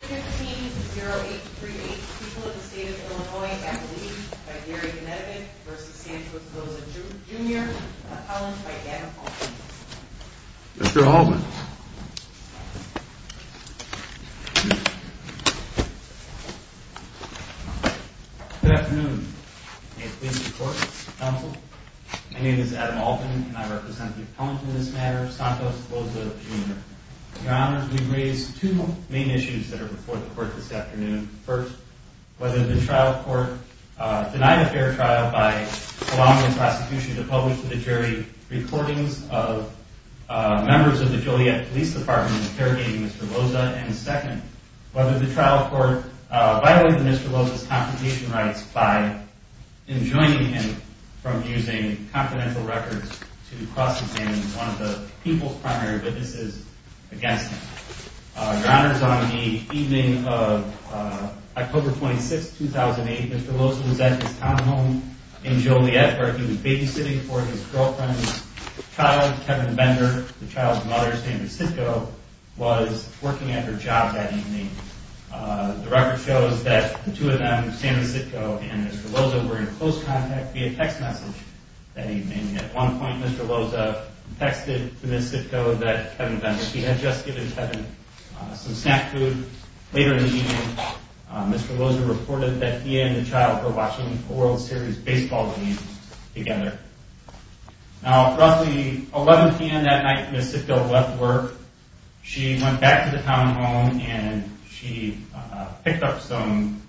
15-0838, people of the state of Illinois, at the lead by Gary Gnedevich v. Santos Loza, Jr. Appellant by Adam Alton. Mr. Alton. Good afternoon. May it please the court, counsel. My name is Adam Alton and I represent the appellant in this matter, Santos Loza, Jr. Your honors, we've raised two main issues that are before the court this afternoon. First, whether the trial court denied a fair trial by allowing the prosecution to publish to the jury recordings of members of the Joliet Police Department interrogating Mr. Loza. And second, whether the trial court violated Mr. Loza's confrontation rights by enjoining him from using confidential records to cross-examine one of the people's primary witnesses against him. Your honors, on the evening of October 26, 2008, Mr. Loza was at his townhome in Joliet where he was babysitting for his girlfriend's child, Kevin Bender. The child's mother, Sandra Sitko, was working at her job that evening. The record shows that the two of them, Sandra Sitko and Mr. Loza, were in close contact via text message that evening. At one point, Mr. Loza texted to Ms. Sitko that Kevin Bender, he had just given Kevin some snack food. Later in the evening, Mr. Loza reported that he and the child were watching a World Series baseball game together. Now, at roughly 11 p.m. that night, Ms. Sitko left work. She went back to the townhome and she picked up some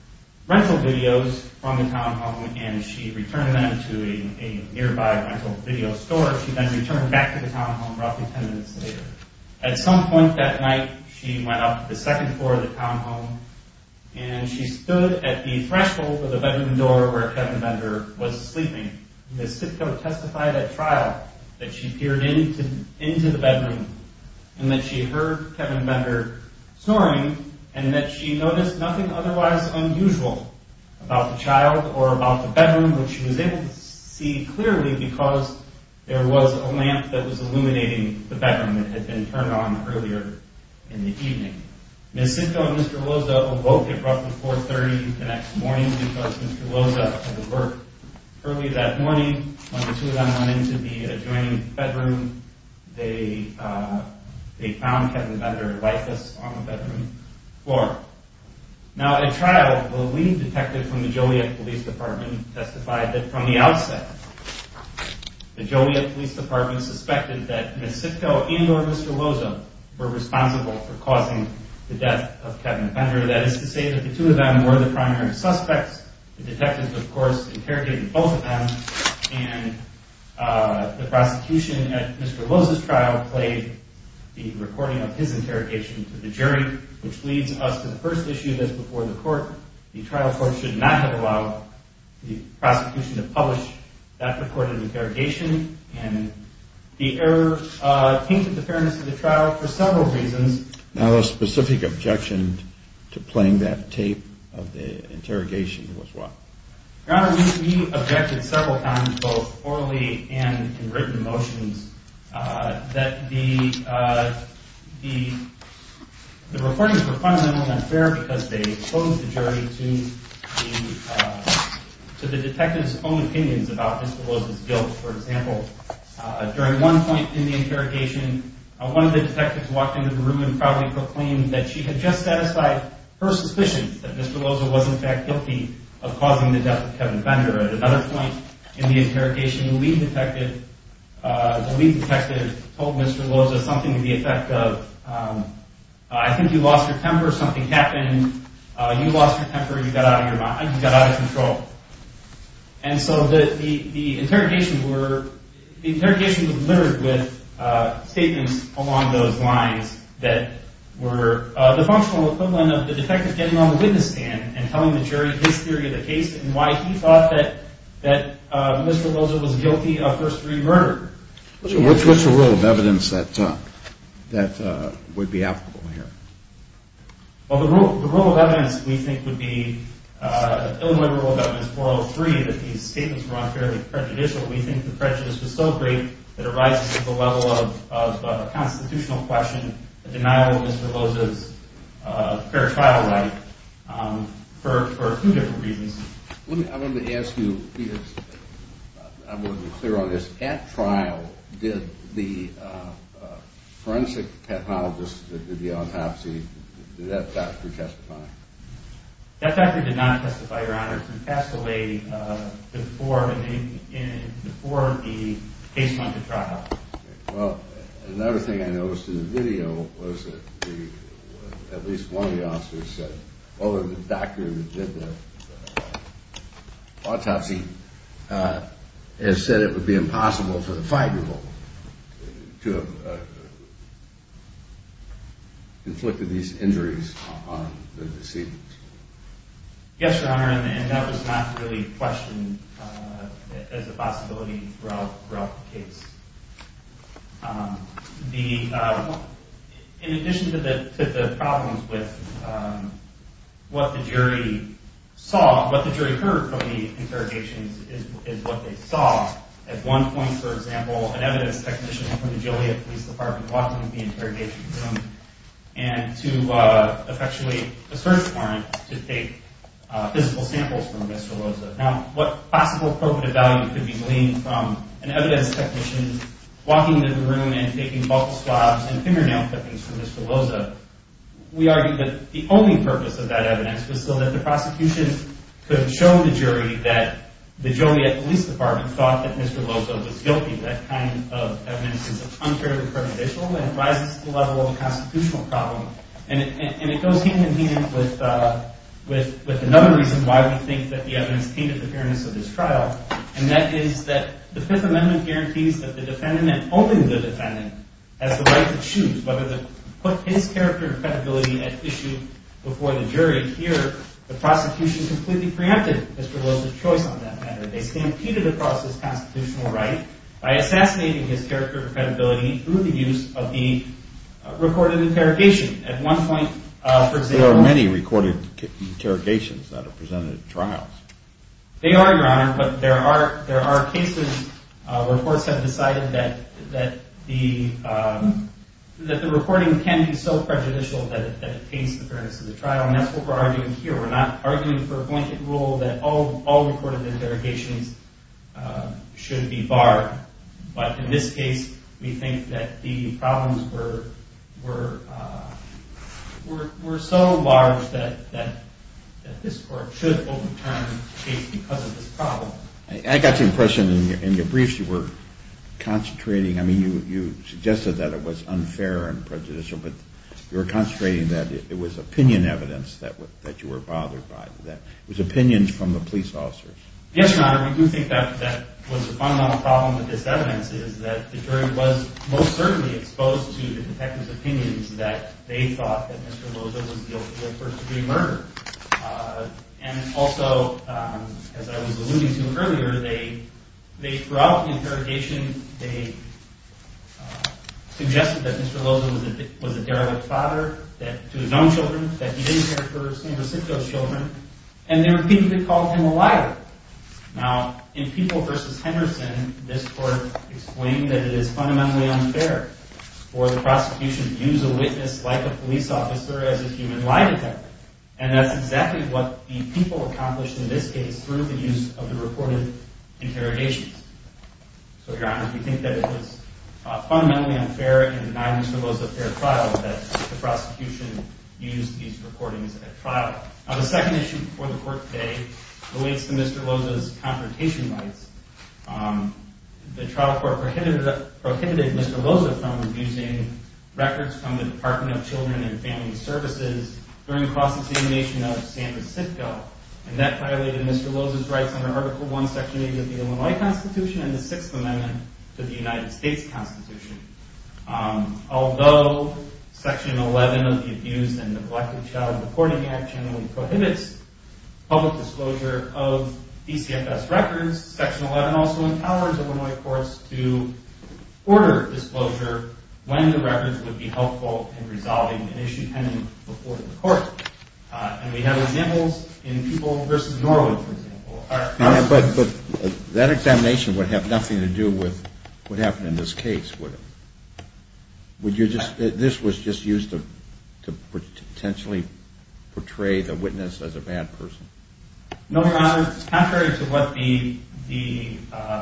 rental videos from the townhome and she returned them to a nearby rental video store. She then returned back to the townhome roughly 10 minutes later. At some point that night, she went up to the second floor of the townhome and she stood at the threshold of the bedroom door where Kevin Bender was sleeping. Ms. Sitko testified at trial that she peered into the bedroom and that she heard Kevin Bender snoring and that she noticed nothing otherwise unusual about the child or about the bedroom, which she was able to see clearly because there was a lamp that was illuminating the bedroom that had been turned on earlier in the evening. Ms. Sitko and Mr. Loza awoke at roughly 4.30 the next morning because Mr. Loza had left work early that morning. When the two of them went into the adjoining bedroom, they found Kevin Bender like this on the bedroom floor. Now, at trial, the lead detective from the Joliet Police Department testified that from the outset, the Joliet Police Department suspected that Ms. Sitko and or Mr. Loza were responsible for causing the death of Kevin Bender. That is to say that the two of them were the primary suspects. The detectives, of course, interrogated both of them, and the prosecution at Mr. Loza's trial played the recording of his interrogation to the jury, which leads us to the first issue that's before the court. The trial court should not have allowed the prosecution to publish that recorded interrogation, and the error came to the fairness of the trial for several reasons. Now, the specific objection to playing that tape of the interrogation was what? Your Honor, we objected several times, both orally and in written motions, that the recordings were fundamentally unfair because they posed the jury to the detectives' own opinions about Mr. Loza's guilt. For example, during one point in the interrogation, one of the detectives walked into the room and proudly proclaimed that she had just satisfied her suspicion that Mr. Loza was in fact guilty of causing the death of Kevin Bender. At another point in the interrogation, the lead detective told Mr. Loza something to the effect of, I think you lost your temper, something happened, you lost your temper, you got out of your mind, you got out of control. And so the interrogation was littered with statements along those lines that were the functional equivalent of the detective getting on the witness stand and telling the jury his theory of the case and why he thought that Mr. Loza was guilty of first degree murder. What's the rule of evidence that would be applicable here? Well, the rule of evidence, we think, would be Illinois Rule of Evidence 403, that these statements were unfairly prejudicial. We think the prejudice was so great that it rises to the level of a constitutional question, a denial of Mr. Loza's fair trial right, for two different reasons. I wanted to ask you, I want to be clear on this. At trial, did the forensic pathologist that did the autopsy, did that doctor testify? That doctor did not testify, Your Honor. It's been passed away before the case went to trial. Well, another thing I noticed in the video was that at least one of the officers said, other than the doctor who did the autopsy, has said it would be impossible for the five-year-old to have inflicted these injuries on the deceased. Yes, Your Honor, and that was not really questioned as a possibility throughout the case. In addition to the problems with what the jury saw, what the jury heard from the interrogations is what they saw. At one point, for example, an evidence technician from the Joliet Police Department walked into the interrogation room and to effectuate a search warrant to take physical samples from Mr. Loza. Now, what possible probative value could be gleaned from an evidence technician walking into the room and taking bulk swabs and fingernail clippings from Mr. Loza? We argue that the only purpose of that evidence was so that the prosecution could show the jury that the Joliet Police Department thought that Mr. Loza was guilty. That kind of evidence is contrary to the current official and rises to the level of a constitutional problem. And it goes hand in hand with another reason why we think that the evidence painted the fairness of this trial, and that is that the Fifth Amendment guarantees that the defendant and only the defendant has the right to choose whether to put his character and credibility at issue before the jury. Here, the prosecution completely preempted Mr. Loza's choice on that matter. They stampeded across his constitutional right by assassinating his character and credibility through the use of the recorded interrogation. At one point, for example- There are many recorded interrogations that are presented at trials. They are, Your Honor, but there are cases where courts have decided that the recording can be so prejudicial that it paints the fairness of the trial, and that's what we're arguing here. We're not arguing for a blanket rule that all recorded interrogations should be barred. But in this case, we think that the problems were so large that this court should overturn the case because of this problem. I got the impression in your briefs you were concentrating- I mean, you suggested that it was unfair and prejudicial, but you were concentrating that it was opinion evidence that you were bothered by, that it was opinions from the police officers. Yes, Your Honor, we do think that was the fundamental problem with this evidence, is that the jury was most certainly exposed to the detective's opinions that they thought that Mr. Loza was guilty of first-degree murder. And also, as I was alluding to earlier, throughout the interrogation, they suggested that Mr. Loza was a derelict father to his own children, that he didn't care for his own recipient's children, and they repeatedly called him a liar. Now, in People v. Henderson, this court explained that it is fundamentally unfair for the prosecution to use a witness like a police officer as a human lie detector, and that's exactly what the People accomplished in this case through the use of the recorded interrogations. So, Your Honor, we think that it was fundamentally unfair in denying Mr. Loza a fair trial, that the prosecution used these recordings at trial. Now, the second issue before the court today relates to Mr. Loza's confrontation rights. The trial court prohibited Mr. Loza from using records from the Department of Children and Family Services during the cross-examination of San Francisco, and that violated Mr. Loza's rights under Article I, Section 8 of the Illinois Constitution and the Sixth Amendment to the United States Constitution. Although Section 11 of the Abuse and Neglect of Child Reporting Act generally prohibits public disclosure of DCFS records, Section 11 also empowers Illinois courts to order disclosure when the records would be helpful in resolving an issue pending before the court. And we have examples in People v. Norwood, for example. But that examination would have nothing to do with what happened in this case, would it? This was just used to potentially portray the witness as a bad person? No, Your Honor. Contrary to what the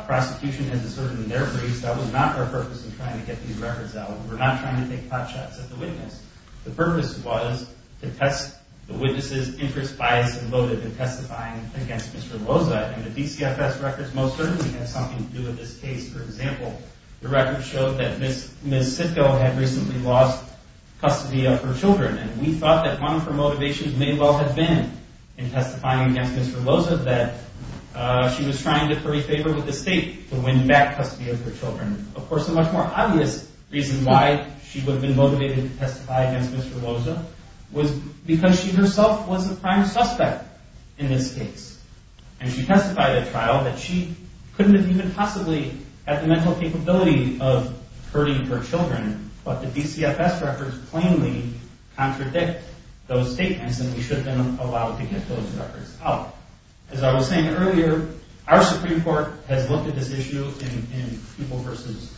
prosecution had asserted in their briefs, that was not our purpose in trying to get these records out. We were not trying to take hot shots at the witness. The purpose was to test the witness's interest, bias, and motive in testifying against Mr. Loza, and the DCFS records most certainly had something to do with this case. For example, the records showed that Ms. Sitko had recently lost custody of her children, and we thought that one of her motivations may well have been in testifying against Mr. Loza that she was trying to curry favor with the state to win back custody of her children. Of course, a much more obvious reason why she would have been motivated to testify against Mr. Loza was because she herself was the prime suspect in this case. And she testified at trial that she couldn't have even possibly had the mental capability of hurting her children, but the DCFS records plainly contradict those statements, and we should have been allowed to get those records out. As I was saying earlier, our Supreme Court has looked at this issue in People v.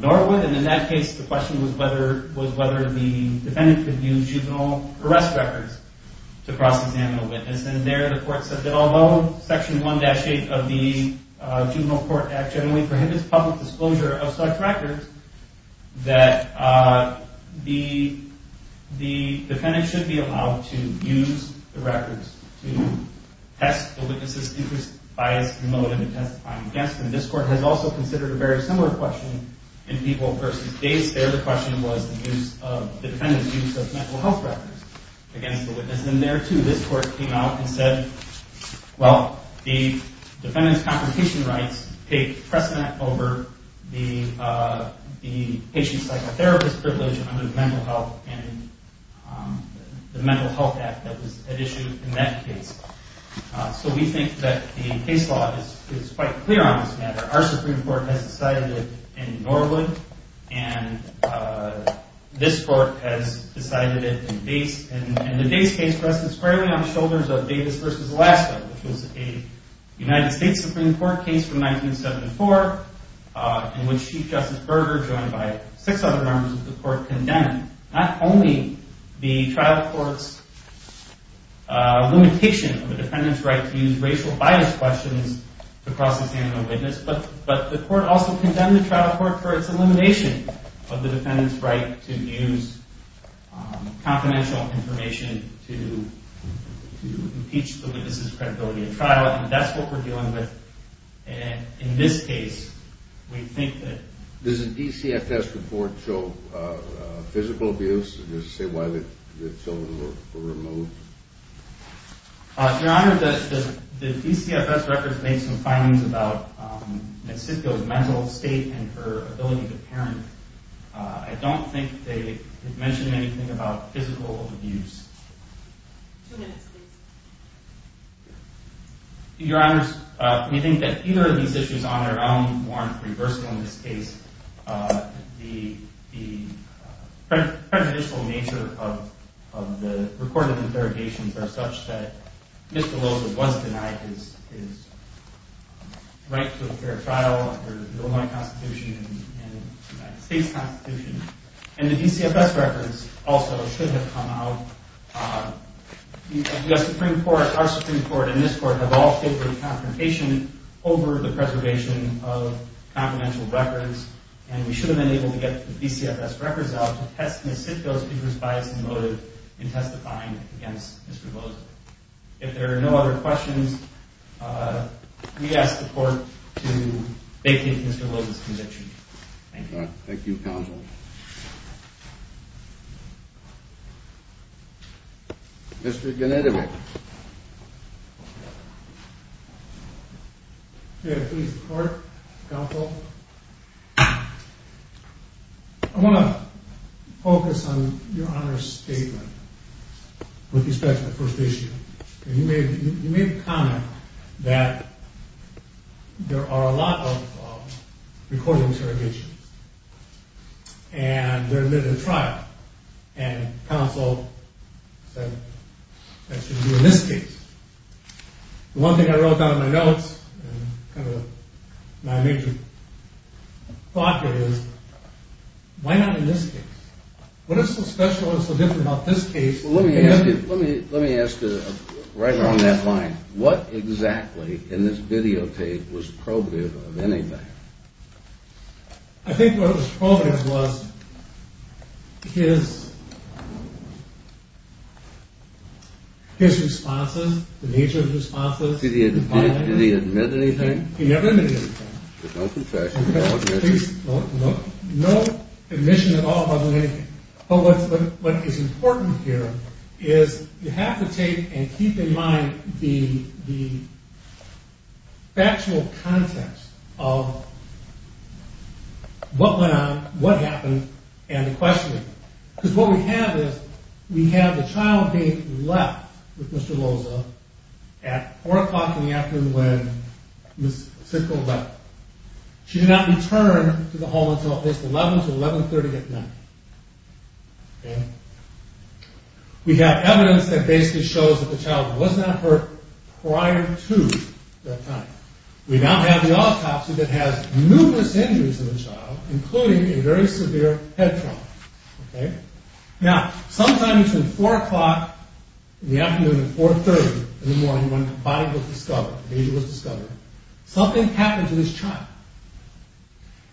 Norwood, and in that case the question was whether the defendant could use juvenile arrest records to cross-examine a witness. And there the court said that although Section 1-8 of the Juvenile Court Act generally prohibits public disclosure of such records, that the defendant should be allowed to use the records to test the witness's interest, bias, motive in testifying against them. This court has also considered a very similar question in People v. Davis. There the question was the defendant's use of mental health records against the witness, and there too this court came out and said, Well, the defendant's confrontation rights take precedent over the patient's psychotherapist privilege under the Mental Health Act that was at issue in that case. So we think that the case law is quite clear on this matter. Our Supreme Court has decided it in Norwood, and this court has decided it in Davis. And the Davis case rests squarely on the shoulders of Davis v. Alaska, which was a United States Supreme Court case from 1974, in which Chief Justice Berger, joined by six other members of the court, condemned not only the trial court's limitation of the defendant's right to use racial bias questions to cross-examine a witness, but the court also condemned the trial court for its elimination of the defendant's right to use confidential information to impeach the witness's credibility at trial, and that's what we're dealing with in this case. Does the DCFS report show physical abuse? Does it say why the children were removed? Your Honor, the DCFS records make some findings about Nancisco's mental state and her ability to parent. I don't think they mention anything about physical abuse. Two minutes, please. Your Honors, we think that either of these issues on their own weren't reversible in this case. The prejudicial nature of the recorded interrogations are such that Mr. Loza was denied his right to a fair trial under the Illinois Constitution and the United States Constitution, and the DCFS records also should have come out. The U.S. Supreme Court, our Supreme Court, and this Court have all favored confrontation over the preservation of confidential records, and we should have been able to get the DCFS records out to test Nancisco's people's bias and motive in testifying against Mr. Loza. If there are no other questions, we ask the Court to vacate Mr. Loza's conviction. Thank you. Thank you, counsel. Mr. Gennady. Your Honor, please report, counsel. I want to focus on Your Honor's statement with respect to the first issue. You made the comment that there are a lot of recorded interrogations, and they're admitted to trial, and counsel said that shouldn't be in this case. One thing I wrote down in my notes, and kind of my major thought here is, why not in this case? What is so special and so different about this case? Let me ask you, right along that line, what exactly in this videotape was probative of anything? I think what was probative was his responses, the nature of his responses. Did he admit anything? He never admitted anything. There's no confession, no admission. Please, no admission at all other than anything. But what is important here is you have to take and keep in mind the factual context of what went on, what happened, and the questioning. Because what we have is, we have the child being left with Mr. Loza at 4 o'clock in the afternoon when Ms. Sickle left. She did not return to the home until at least 11 to 11.30 at night. We have evidence that basically shows that the child was not hurt prior to that time. We now have the autopsy that has numerous injuries in the child, including a very severe head trauma. Now, sometime between 4 o'clock in the afternoon and 4.30 in the morning when the body was discovered, the baby was discovered, something happened to this child.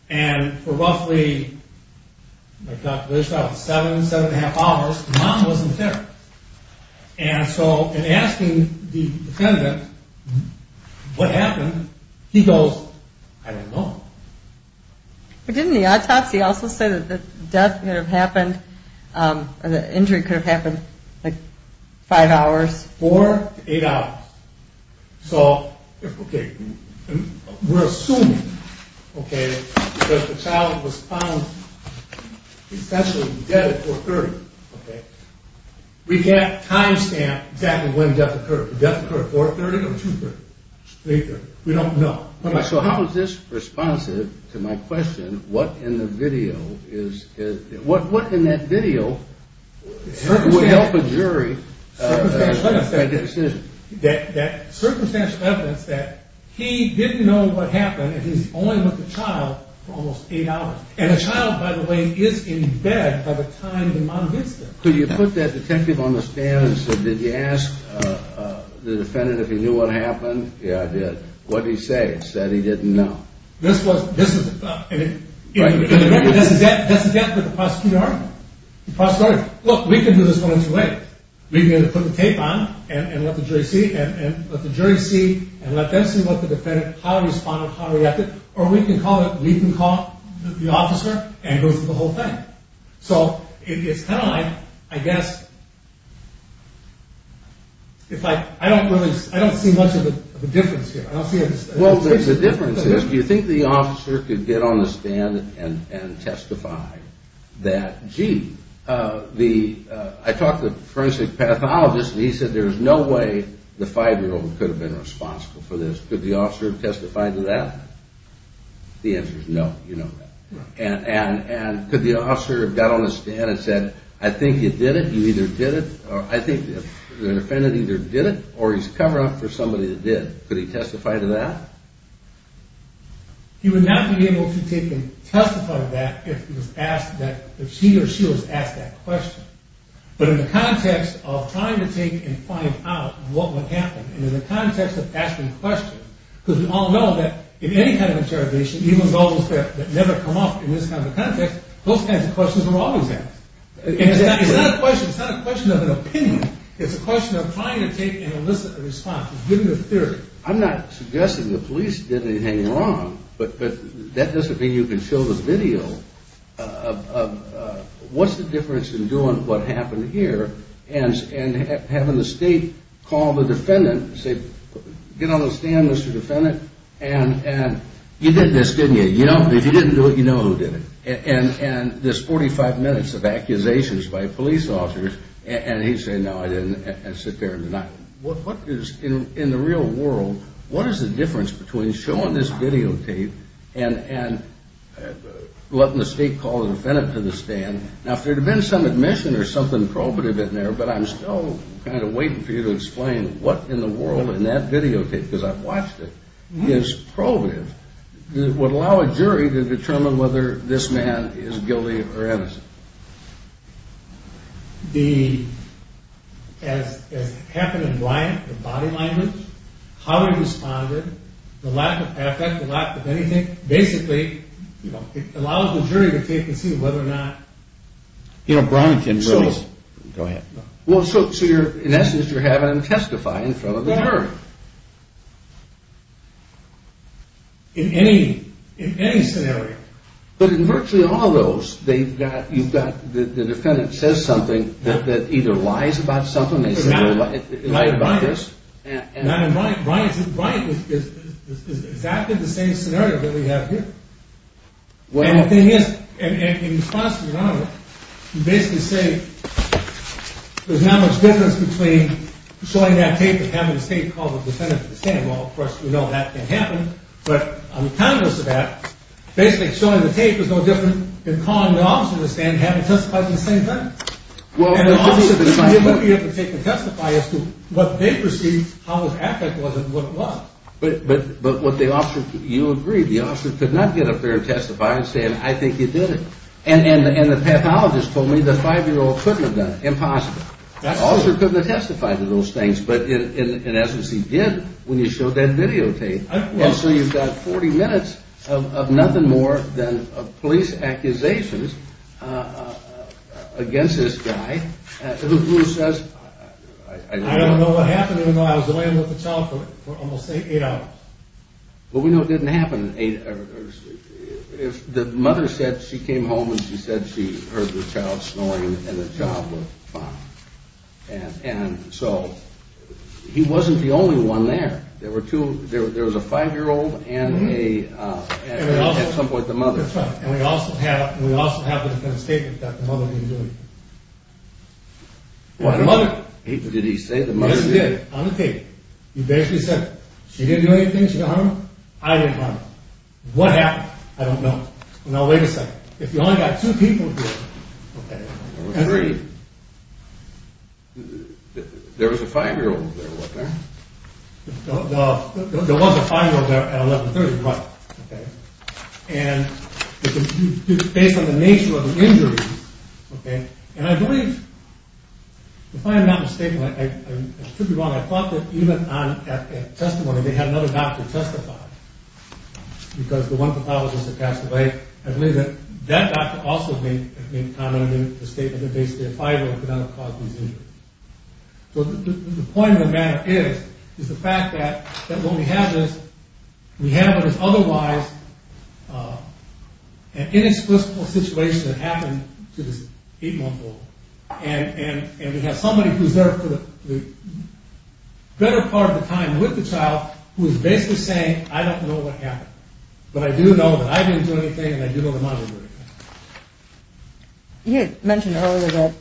And for roughly, there's about seven, seven and a half hours, the mom wasn't there. And so in asking the defendant what happened, he goes, I don't know. But didn't the autopsy also say that the death could have happened, the injury could have happened, like five hours? Four to eight hours. So, okay, we're assuming, okay, that the child was found essentially dead at 4.30. We can't time stamp exactly when death occurred. Did death occur at 4.30 or 2.30? We don't know. So how is this responsive to my question, what in the video is, what in that video would help a jury make a decision? That circumstantial evidence that he didn't know what happened and he's only with the child for almost eight hours. And the child, by the way, is in bed by the time the mom gets there. Could you put that detective on the stand and say, did you ask the defendant if he knew what happened? Yeah, I did. What did he say? He said he didn't know. This was, this is, and the record doesn't get to the prosecutor. Look, we can do this one-on-two way. We can put the tape on and let the jury see and let the jury see and let them see what the defendant, how he responded, how he reacted. Or we can call it, we can call the officer and go through the whole thing. So it's kind of like, I guess, if I, I don't really, I don't see much of a difference here. Well, the difference is, do you think the officer could get on the stand and testify that, gee, the, I talked to the forensic pathologist and he said there's no way the five-year-old could have been responsible for this. Could the officer have testified to that? The answer is no. You know that. And could the officer have got on the stand and said, I think you did it, you either did it, I think the defendant either did it or he's covering up for somebody that did. Could he testify to that? He would not be able to testify to that if he was asked that, if he or she was asked that question. But in the context of trying to take and find out what would happen and in the context of asking questions, because we all know that in any kind of interrogation, even those that never come up in this kind of context, those kinds of questions are always asked. It's not a question. It's not a question of an opinion. It's a question of trying to take and elicit a response. It's given a theory. I'm not suggesting the police did anything wrong, but that doesn't mean you can show the video of what's the difference in doing what happened here and having the state call the defendant and say, get on the stand, Mr. Defendant, and you did this, didn't you? If you didn't do it, you know who did it. And this 45 minutes of accusations by police officers, and he'd say, no, I didn't, and sit there and deny it. What is, in the real world, what is the difference between showing this videotape and letting the state call the defendant to the stand? Now, if there had been some admission or something probative in there, but I'm still kind of waiting for you to explain what in the world in that videotape, because I've watched it, is probative, it would allow a jury to determine whether this man is guilty or innocent. The, as happened in Bryant, the body language, how he responded, the lack of affect, the lack of anything, basically, you know, it allows the jury to take and see whether or not... You know, Brownington really... Go ahead. Well, so you're, in essence, you're having them testify in front of the jury. In any, in any scenario. But in virtually all those, they've got, you've got, the defendant says something that either lies about something, they say they lied about this. Not in Bryant. Not in Bryant. Bryant is exactly the same scenario that we have here. Well... And the thing is, in response to your honor, you basically say there's not much difference between showing that tape and having the state call the defendant to the stand. Well, of course, we know that can happen, but I'm cognizant of that. Basically, showing the tape is no different than calling the officer to the stand and having them testify at the same time. Well... And the officer, they wouldn't be able to take and testify as to what they perceived, how much affect was it, what it was. But what the officer, you agree, the officer could not get up there and testify and say, I think you did it. And the pathologist told me the five-year-old couldn't have done it. Impossible. That's true. The officer couldn't have testified to those things, but in essence, he did when you showed that videotape. And so you've got 40 minutes of nothing more than police accusations against this guy, who says... I don't know what happened, even though I was away with the child for almost eight hours. Well, we know it didn't happen in eight hours. The mother said she came home and she said she heard the child snoring and the child was fine. And so he wasn't the only one there. There was a five-year-old and at some point the mother. That's right. And we also have the statement that the mother didn't do it. Or the mother. Did he say the mother did it? Yes, he did, on the tape. He basically said, she didn't do anything, she didn't harm her. I didn't harm her. What happened, I don't know. Now, wait a second. If you only got two people here. There were three. There was a five-year-old there, wasn't there? There was a five-year-old there at 1130, right. And based on the nature of the injury. And I believe, if I am not mistaken, I could be wrong. I thought that even on that testimony they had another doctor testify. Because the one pathologist had passed away. I believe that that doctor also made a comment in the statement that basically a five-year-old could not have caused these injuries. So the point of the matter is, is the fact that when we have this, we have it as otherwise an inexplicable situation that happened to this eight-month-old. And we have somebody who is there for the better part of the time with the child who is basically saying, I don't know what happened. But I do know that I didn't do anything and I do know the mother did it. You had mentioned earlier that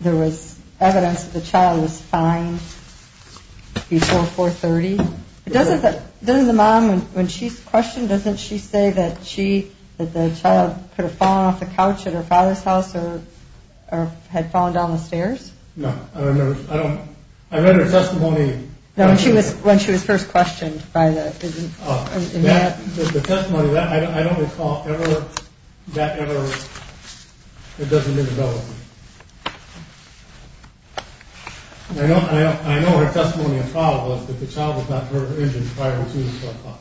there was evidence that the child was fine before 430. Doesn't the mom, when she's questioned, doesn't she say that she, that the child could have fallen off the couch at her father's house or had fallen down the stairs? No, I remember, I don't, I read her testimony. No, when she was first questioned by the. The testimony, I don't recall ever, that ever, it doesn't even go with me. I know her testimony in trial was that the child was not hurt or injured prior to 4 o'clock.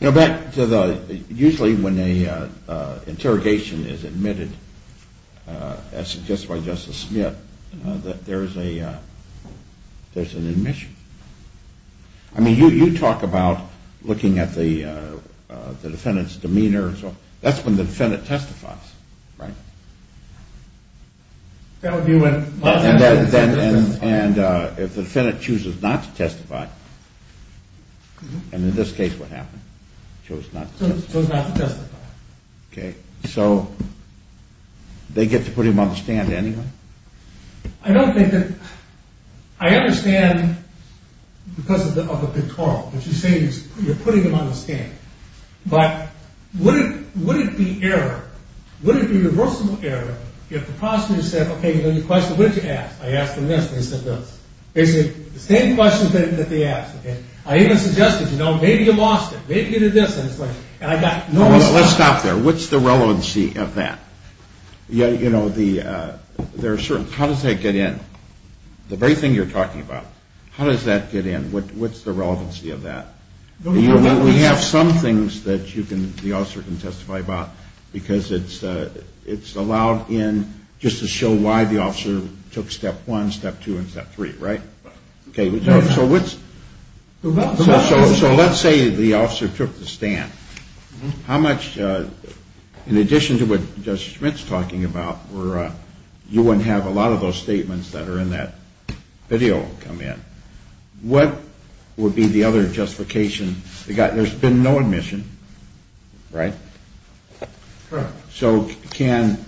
Now back to the, usually when an interrogation is admitted, as suggested by Justice Smith, that there's an admission. I mean you talk about looking at the defendant's demeanor, that's when the defendant testifies, right? That would be when. And if the defendant chooses not to testify, and in this case what happened? Chose not to testify. Okay, so they get to put him on the stand anyway? I don't think that, I understand because of the pictorial, what you're saying is you're putting him on the stand. But would it be irreversible error if the prosecutor said, okay, you have a question, what did you ask? I asked him this, and he said this. They said the same questions that they asked. I even suggested, you know, maybe you lost it, maybe you did this, and I got no response. Let's stop there. What's the relevancy of that? You know, there are certain, how does that get in? The very thing you're talking about, how does that get in? What's the relevancy of that? We have some things that the officer can testify about because it's allowed in just to show why the officer took step one, step two, and step three, right? Okay, so let's say the officer took the stand. How much, in addition to what Judge Schmidt's talking about, where you wouldn't have a lot of those statements that are in that video come in, what would be the other justification? There's been no admission, right? Correct. So can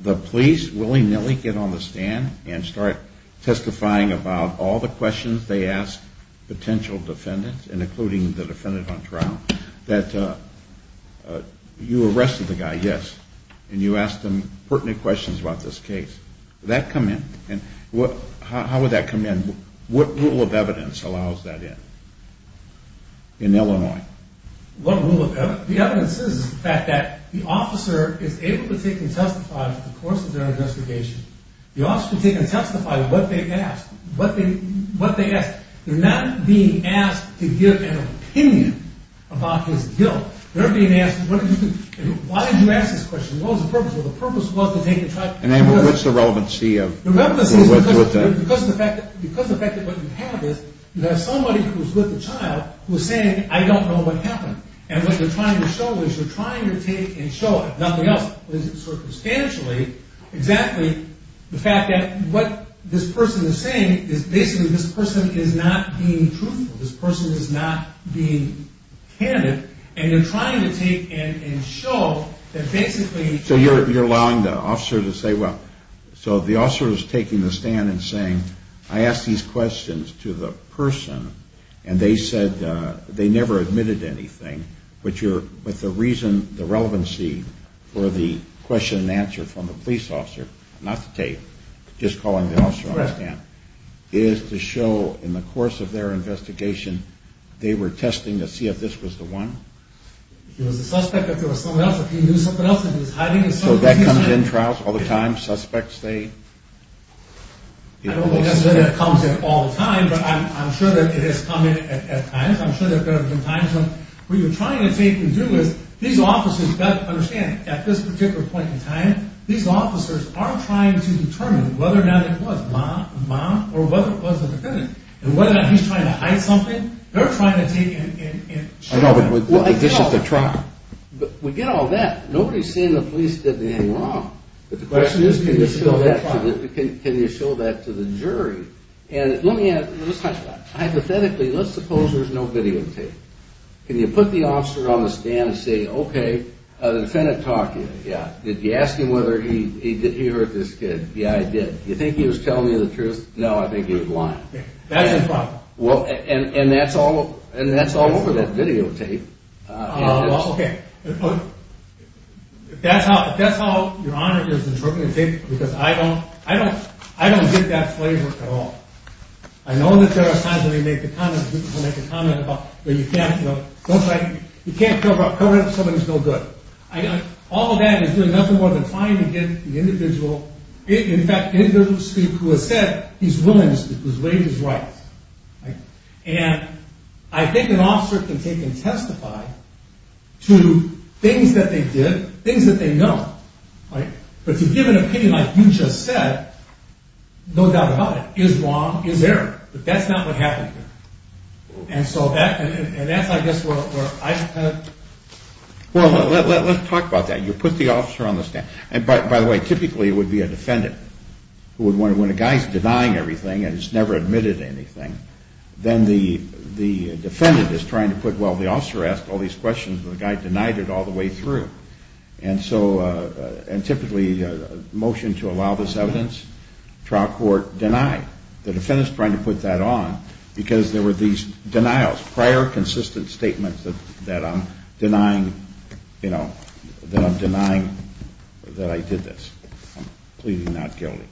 the police willy-nilly get on the stand and start testifying about all the questions they ask potential defendants, and including the defendant on trial, that you arrested the guy, yes, and you asked him pertinent questions about this case. Would that come in? How would that come in? What rule of evidence? The evidence is the fact that the officer is able to take and testify over the course of their investigation. The officer can take and testify what they asked. They're not being asked to give an opinion about his guilt. They're being asked, why did you ask this question? What was the purpose? Well, the purpose was to take the trial. And what's the relevancy of that? Because of the fact that what you have is you have somebody who's with the child who's saying, I don't know what happened. And what you're trying to show is you're trying to take and show, if nothing else, circumstantially, exactly, the fact that what this person is saying is basically this person is not being truthful. This person is not being candid. And you're trying to take and show that basically... So you're allowing the officer to say, well, so the officer is taking the stand and saying, I asked these questions to the person, and they said they never admitted anything. But the reason, the relevancy for the question and answer from the police officer, not the tape, just calling the officer on the stand, is to show in the course of their investigation, they were testing to see if this was the one? If he was a suspect, if there was someone else, if he knew something else, if he was hiding... So that comes in trials all the time? Suspects, they... I don't think that's something that comes in all the time, but I'm sure that it has come in at times. I'm sure there have been times when what you're trying to take and do is, these officers have got to understand, at this particular point in time, these officers are trying to determine whether or not it was Mom or whether it was the defendant. And whether or not he's trying to hide something, they're trying to take and show. This is a trial. We get all that. Nobody's saying the police did anything wrong. But the question is, can you show that to the jury? And let me ask, hypothetically, let's suppose there's no videotape. Can you put the officer on the stand and say, okay, the defendant talked to you. Did you ask him whether he heard this kid? Yeah, I did. You think he was telling you the truth? No, I think he was lying. Well, and that's all over that videotape. Ah, well, okay. If that's how your honor is interpreting things, because I don't get that flavor at all. I know that there are times when they make a comment about, you can't cover up somebody's no good. All of that is doing nothing more than trying to get the individual, in fact, individual to speak who has said he's willing to speak, whose range is right. And I think an officer can take and testify to things that they did, things that they know. But to give an opinion like you just said, no doubt about it, is wrong, is error. But that's not what happened here. And so that's, I guess, where I kind of. Well, let's talk about that. You put the officer on the stand. And by the way, typically it would be a defendant. When a guy's denying everything and has never admitted anything, then the defendant is trying to put, well, the officer asked all these questions and the guy denied it all the way through. And so, and typically a motion to allow this evidence, trial court, denied. The defendant's trying to put that on because there were these denials, prior consistent statements that I'm denying, you know, that I'm denying that I did this. I'm pleading not guilty.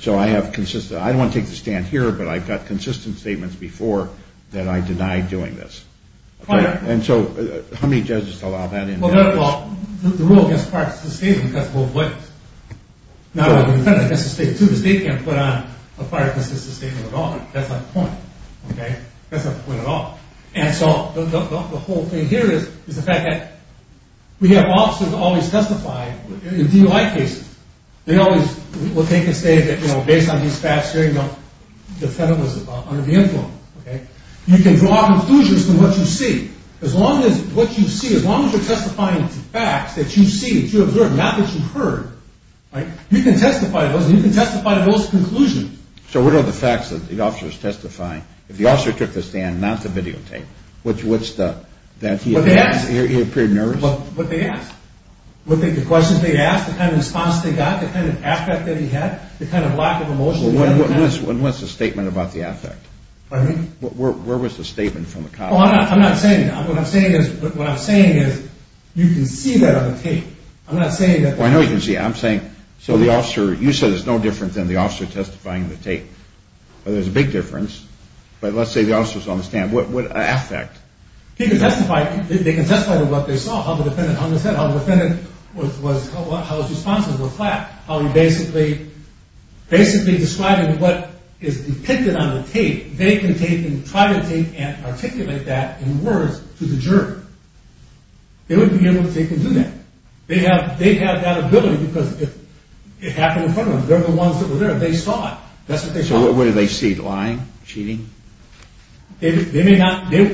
So I have consistent, I don't want to take the stand here, but I've got consistent statements before that I denied doing this. And so how many judges allow that in? Well, the rule against prior consistent statement cuts both ways. Not only the defendant against the state, too. The state can't put on a prior consistent statement at all. That's not the point. Okay? That's not the point at all. And so the whole thing here is the fact that we have officers always testify in DUI cases. They always, what they can say is that, you know, based on these facts here, you know, the defendant was under the influence. Okay? You can draw conclusions from what you see. As long as what you see, as long as you're testifying to facts that you see, that you observe, not that you heard, right, you can testify to those and you can testify to those conclusions. So what are the facts that the officer is testifying? If the officer took the stand, not the videotape, what's the? He appeared nervous? What they asked. The questions they asked, the kind of response they got, the kind of affect that he had, the kind of lack of emotion. What's the statement about the affect? Pardon me? Where was the statement from the colleague? Oh, I'm not saying. What I'm saying is you can see that on the tape. I'm not saying that. Well, I know you can see it. I'm saying, so the officer, you said it's no different than the officer testifying on the tape. Well, there's a big difference, but let's say the officer was on the stand. What affect? He can testify. They can testify to what they saw, how the defendant understood, how the defendant was, how his responses were flat, how he basically, basically describing what is depicted on the tape. They can take and try to take and articulate that in words to the jury. They wouldn't be able to take and do that. They have that ability because it happened in front of them. They're the ones that were there. They saw it. That's what they saw. So what did they see? Lying? Cheating? They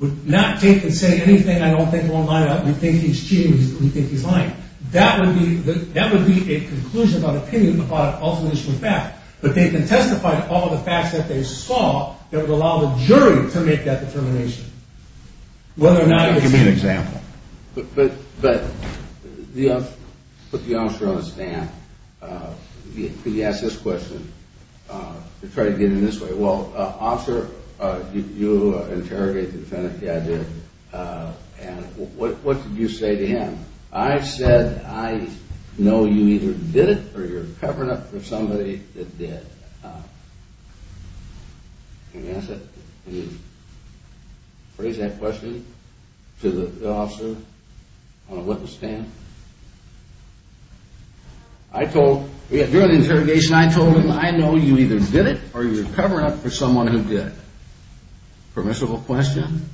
would not take and say anything I don't think will line up. We think he's cheating. We think he's lying. That would be a conclusion of opinion about an alternate issue of fact. But they can testify to all the facts that they saw that would allow the jury to make that determination. Give me an example. But put the officer on a stand. He asks this question. Try to get him this way. Well, officer, you interrogated the defendant. Yeah, I did. And what did you say to him? I said I know you either did it or you're covering up for somebody that did. Can you answer that? Can you phrase that question to the officer on a witness stand? I told, during the interrogation, I told him I know you either did it or you're covering up for someone who did. Permissible question?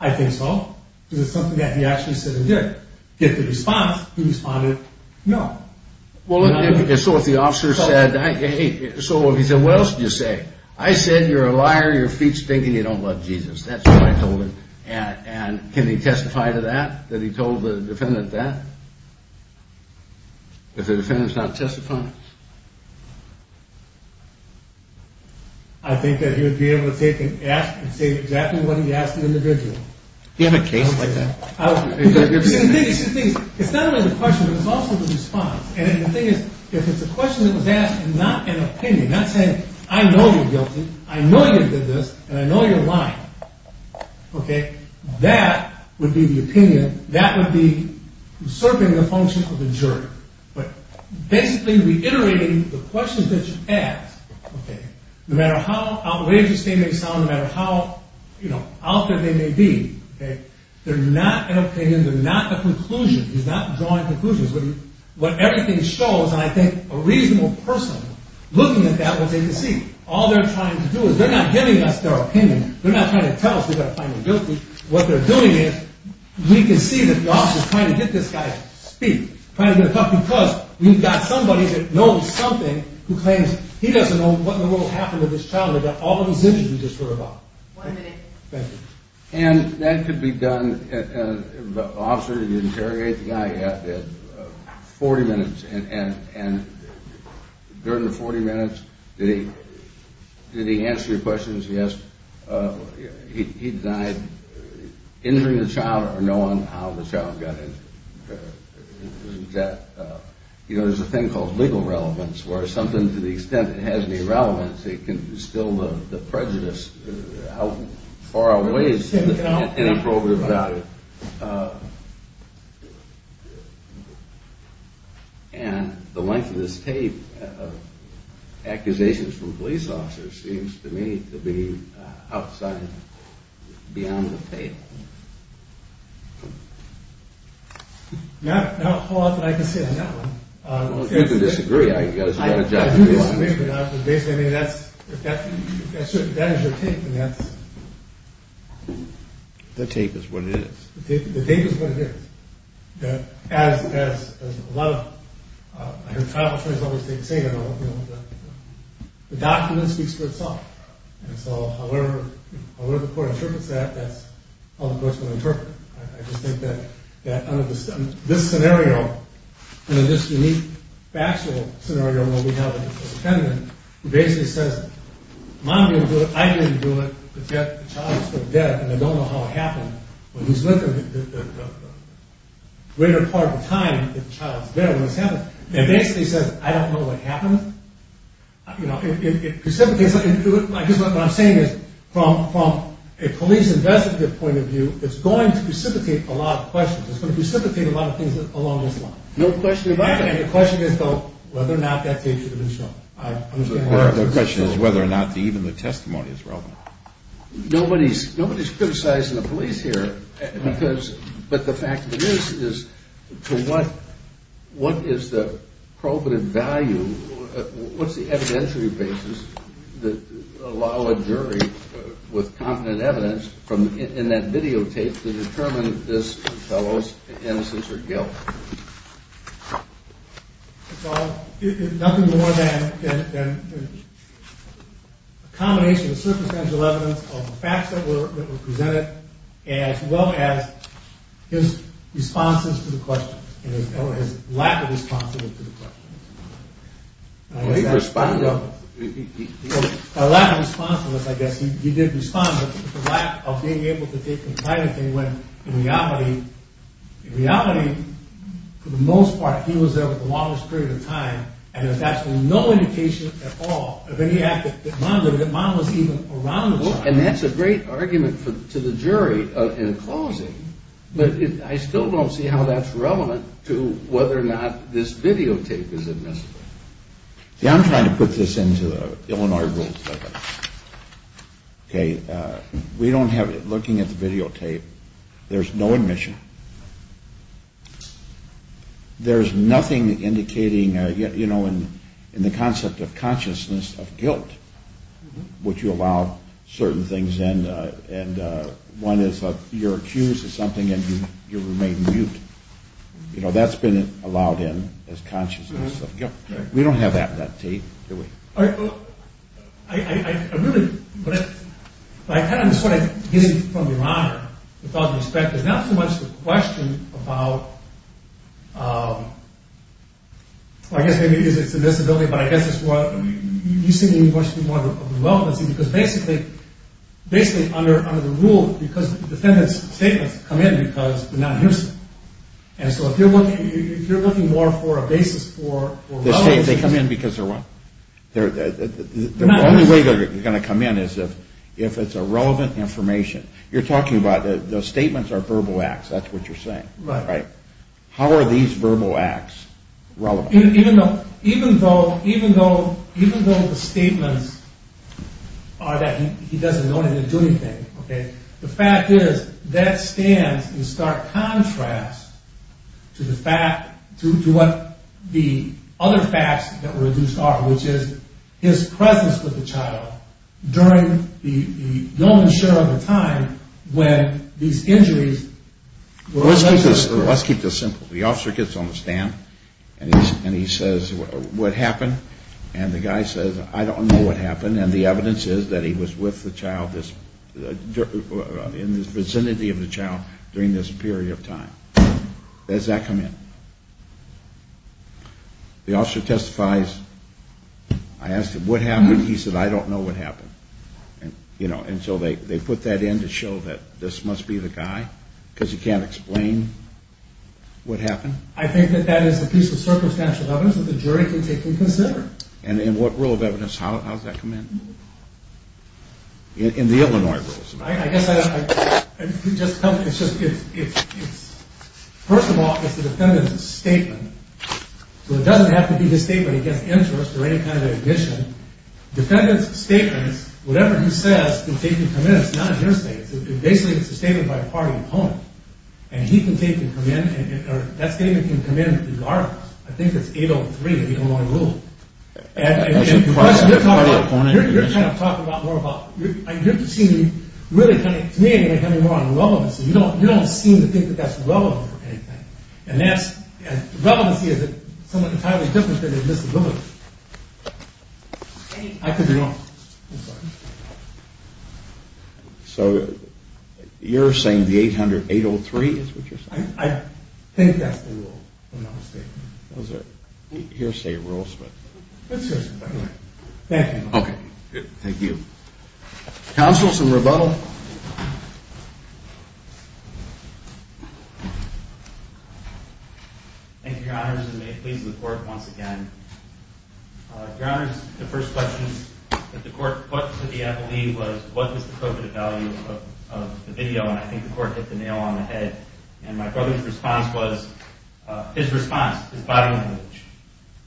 I think so. Because it's something that he actually said he did. If the response, he responded no. So if the officer said, hey, so he said, what else did you say? I said you're a liar, your feet stink, and you don't love Jesus. That's what I told him. And can he testify to that, that he told the defendant that? If the defendant's not testifying? I think that he would be able to take an F and say exactly what he asked the individual. Do you have a case like that? It's not only the question, but it's also the response. And the thing is, if it's a question that was asked and not an opinion, not saying I know you're guilty, I know you did this, and I know you're lying, that would be the opinion, that would be usurping the function of the jury. But basically reiterating the questions that you asked, no matter how outrageous they may sound, no matter how out there they may be, they're not an opinion, they're not a conclusion. He's not drawing conclusions. What everything shows, and I think a reasonable person looking at that will say, you see, all they're trying to do is they're not giving us their opinion. They're not trying to tell us we've got to find him guilty. What they're doing is we can see that the officer's trying to get this guy to speak, trying to get him to talk because we've got somebody that knows something who claims he doesn't know what in the world happened to this child. All the decisions we just heard about. One minute. Thank you. And that could be done, the officer interrogates the guy, you have to have 40 minutes, and during the 40 minutes, did he answer your questions? He denied injuring the child or knowing how the child got injured. You know, there's a thing called legal relevance where something to the extent it has any relevance, it can instill the prejudice, how far away it's inappropriate value. And the length of this tape of accusations from police officers seems to me to be outside, beyond the tape. Now, hold on, I can say another one. Well, if you disagree, I guess you've got a job to do. Basically, I mean, if that is your tape, then that's... The tape is what it is. The tape is what it is. As a lot of... I hear tribal attorneys always say, you know, the document speaks for itself. And so, however the court interprets that, that's how the court's going to interpret it. I just think that under this scenario, under this unique factual scenario where we have a defendant who basically says, Mom didn't do it, I didn't do it, but yet the child is still dead, and I don't know how it happened, but he's living a greater part of the time that the child's dead when this happens. And basically says, I don't know what happened. You know, it precipitates... I guess what I'm saying is, from a police investigative point of view, it's going to precipitate a lot of questions. It's going to precipitate a lot of things along this line. The question is, though, whether or not that tape should have been shown. The question is whether or not even the testimony is relevant. Nobody's criticizing the police here. But the fact of the matter is, to what is the probative value, what's the evidentiary basis that would allow a jury with confident evidence in that videotape to determine this fellow's innocence or guilt? It's nothing more than a combination of circumstantial evidence, of the facts that were presented, as well as his responses to the questions, and his lack of responsiveness to the questions. By lack of responsiveness, I guess he did respond, but the lack of being able to take the time to think when, in reality, for the most part, he was there for the longest period of time, and there's actually no indication at all of any act that monitored, that monitored even around the time. And that's a great argument to the jury in closing, but I still don't see how that's relevant to whether or not this videotape is admissible. See, I'm trying to put this into the Illinois rules. We don't have, looking at the videotape, there's no admission. There's nothing indicating, you know, in the concept of consciousness of guilt, which you allow certain things in, and one is you're accused of something and you remain mute. You know, that's been allowed in as consciousness of guilt. We don't have that in that tape, do we? I really, but I kind of just want to get in from your honor, with all due respect, there's not so much the question about, well, I guess maybe it's admissibility, but I guess it's more, you seem to be much more of a relevancy, because basically, basically under the rule, because defendant's statements come in because they're not hearsay. And so if you're looking more for a basis for relevance... The statements, they come in because they're what? They're not hearsay. The only way they're going to come in is if it's irrelevant information. You're talking about the statements are verbal acts, that's what you're saying. Right. How are these verbal acts relevant? Even though the statements are that he doesn't know anything, the fact is, that stands in stark contrast to the fact, to what the other facts that were reduced are, which is his presence with the child during the known share of the time when these injuries were... Let's keep this simple. The officer gets on the stand, and he says, what happened? And the guy says, I don't know what happened, and the evidence is that he was with the child, in the vicinity of the child during this period of time. Does that come in? The officer testifies, I asked him, what happened? He said, I don't know what happened. And so they put that in to show that this must be the guy, because he can't explain what happened. I think that that is a piece of circumstantial evidence that the jury can take into consideration. And in what rule of evidence, how does that come in? In the Illinois rules. First of all, it's the defendant's statement. So it doesn't have to be his statement against interest or any kind of admission. Defendant's statement, whatever he says, they can come in. It's not a hearsay. Basically, it's a statement by a party opponent. And he can take and come in, or that statement can come in regardless. I think it's 803, the Illinois rule. You're kind of talking more about, to me, you're coming more on relevancy. You don't seem to think that that's relevant or anything. And relevancy is somewhat entirely different than admissibility. So you're saying the 803 is what you're saying? I think that's the rule. Those are hearsay rules. Thank you. Thank you. Counsel, some rebuttal. Thank you, Your Honors. And may it please the Court once again. Your Honors, the first question that the Court put to the FLE was, what is the covenant value of the video? And I think the Court hit the nail on the head. And my brother's response was, his response, his body language.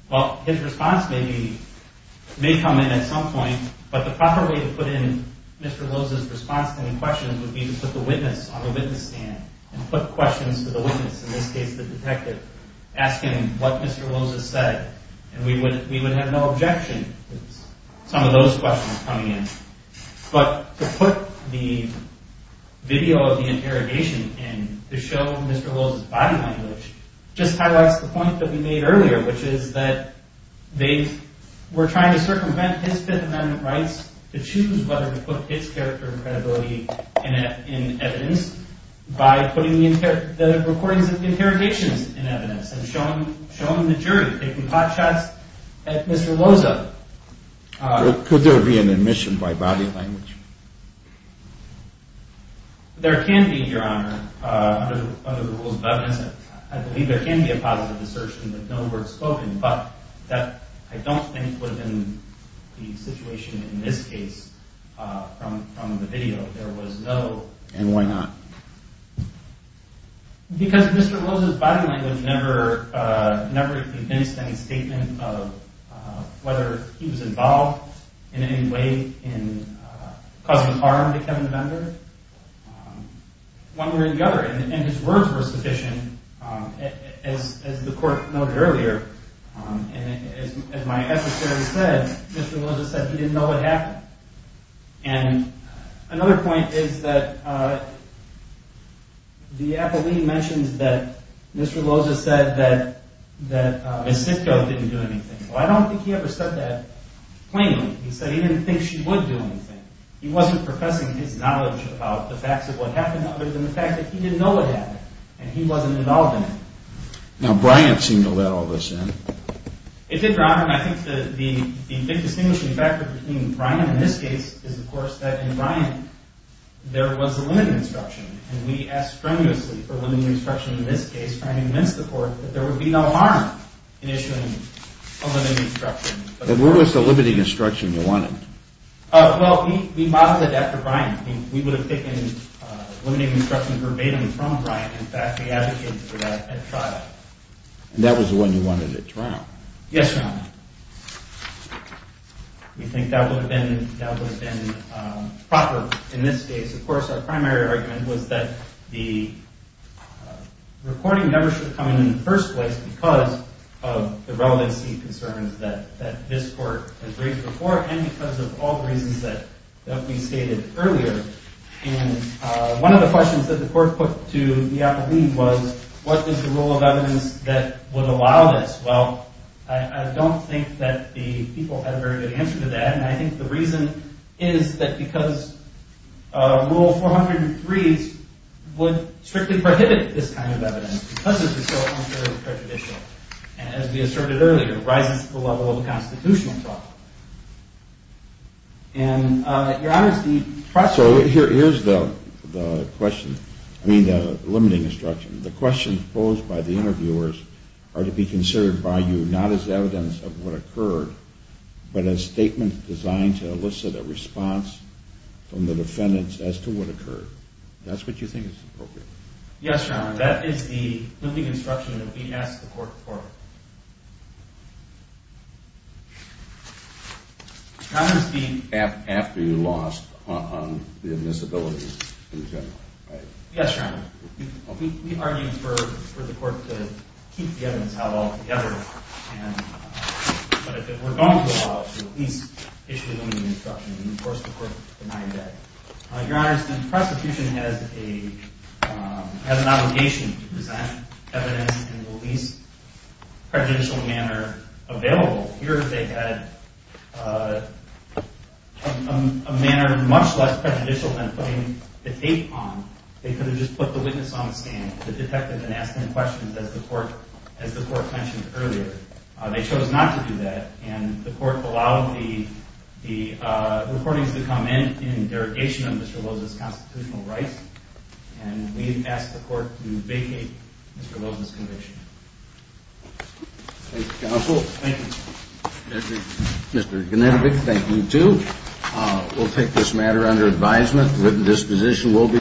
Well, his response may come in at some point, but the proper way to put in Mr. Loza's response to any questions would be to put the witness on the witness stand and put questions to the witness, in this case the detective, asking what Mr. Loza said. And we would have no objection to some of those questions coming in. But to put the video of the interrogation in, to show Mr. Loza's body language, just highlights the point that we made earlier, which is that they were trying to circumvent his Fifth Amendment rights to choose whether to put his character and credibility in evidence by putting the recordings of the interrogations in evidence and showing the jury, taking hot shots at Mr. Loza. Could there be an admission by body language? There can be, Your Honor, under the rules of evidence. I believe there can be a positive assertion with no words spoken, but I don't think within the situation in this case from the video, there was no... And why not? Because Mr. Loza's body language never convinced any statement of whether he was involved in any way in causing harm to Kevin Bender. One way or the other, and his words were sufficient, as the court noted earlier, and as my attorney said, Mr. Loza said he didn't know what happened. And another point is that the appellee mentions that Mr. Loza said that Ms. Sitko didn't do anything. Well, I don't think he ever said that plainly. He said he didn't think she would do anything. He wasn't professing his knowledge about the facts of what happened other than the fact that he didn't know what happened, and he wasn't involved in it. Now, Bryant seemed to let all this in. It did, Your Honor, and I think the big distinguishing factor between Bryant in this case is, of course, that in Bryant there was a limited instruction, and we asked strenuously for limited instruction in this case trying to convince the court that there would be no harm in issuing a limited instruction. And what was the limited instruction you wanted? Well, we modeled it after Bryant. We would have taken limited instruction verbatim from Bryant. In fact, we advocated for that at trial. And that was the one you wanted at trial? Yes, Your Honor. We think that would have been proper in this case. Of course, our primary argument was that the recording never should come in in the first place because of the relevancy concerns that this court has raised before and because of all the reasons that we stated earlier. And one of the questions that the court put to the appellee was, what is the rule of evidence that would allow this? Well, I don't think that the people had a very good answer to that, and I think the reason is that because Rule 403s would strictly prohibit this kind of evidence because it was so unfairly prejudicial. And as we asserted earlier, it rises to the level of a constitutional problem. And, Your Honor, the process... So here is the question. I mean the limiting instruction. The questions posed by the interviewers are to be considered by you not as evidence of what occurred, but as statements designed to elicit a response from the defendants as to what occurred. That's what you think is appropriate? Yes, Your Honor. That is the limiting instruction that we asked the court for. How does the... After you lost on the admissibility in general, right? Yes, Your Honor. We argued for the court to keep the evidence out altogether but if it were going to allow it, to at least issue a limiting instruction and, of course, the court denied that. Your Honor, since prosecution has an obligation to present evidence in the least prejudicial manner available, here they had a manner much less prejudicial than putting the tape on. They could have just put the witness on the stand, the detective, and asked him questions as the court mentioned earlier. They chose not to do that and the court allowed the recordings to come in in derogation of Mr. Loza's constitutional rights and we've asked the court to vacate Mr. Loza's conviction. Thank you, counsel. Thank you. Mr. Genevievek, thank you too. We'll take this matter under advisement. Written disposition will be...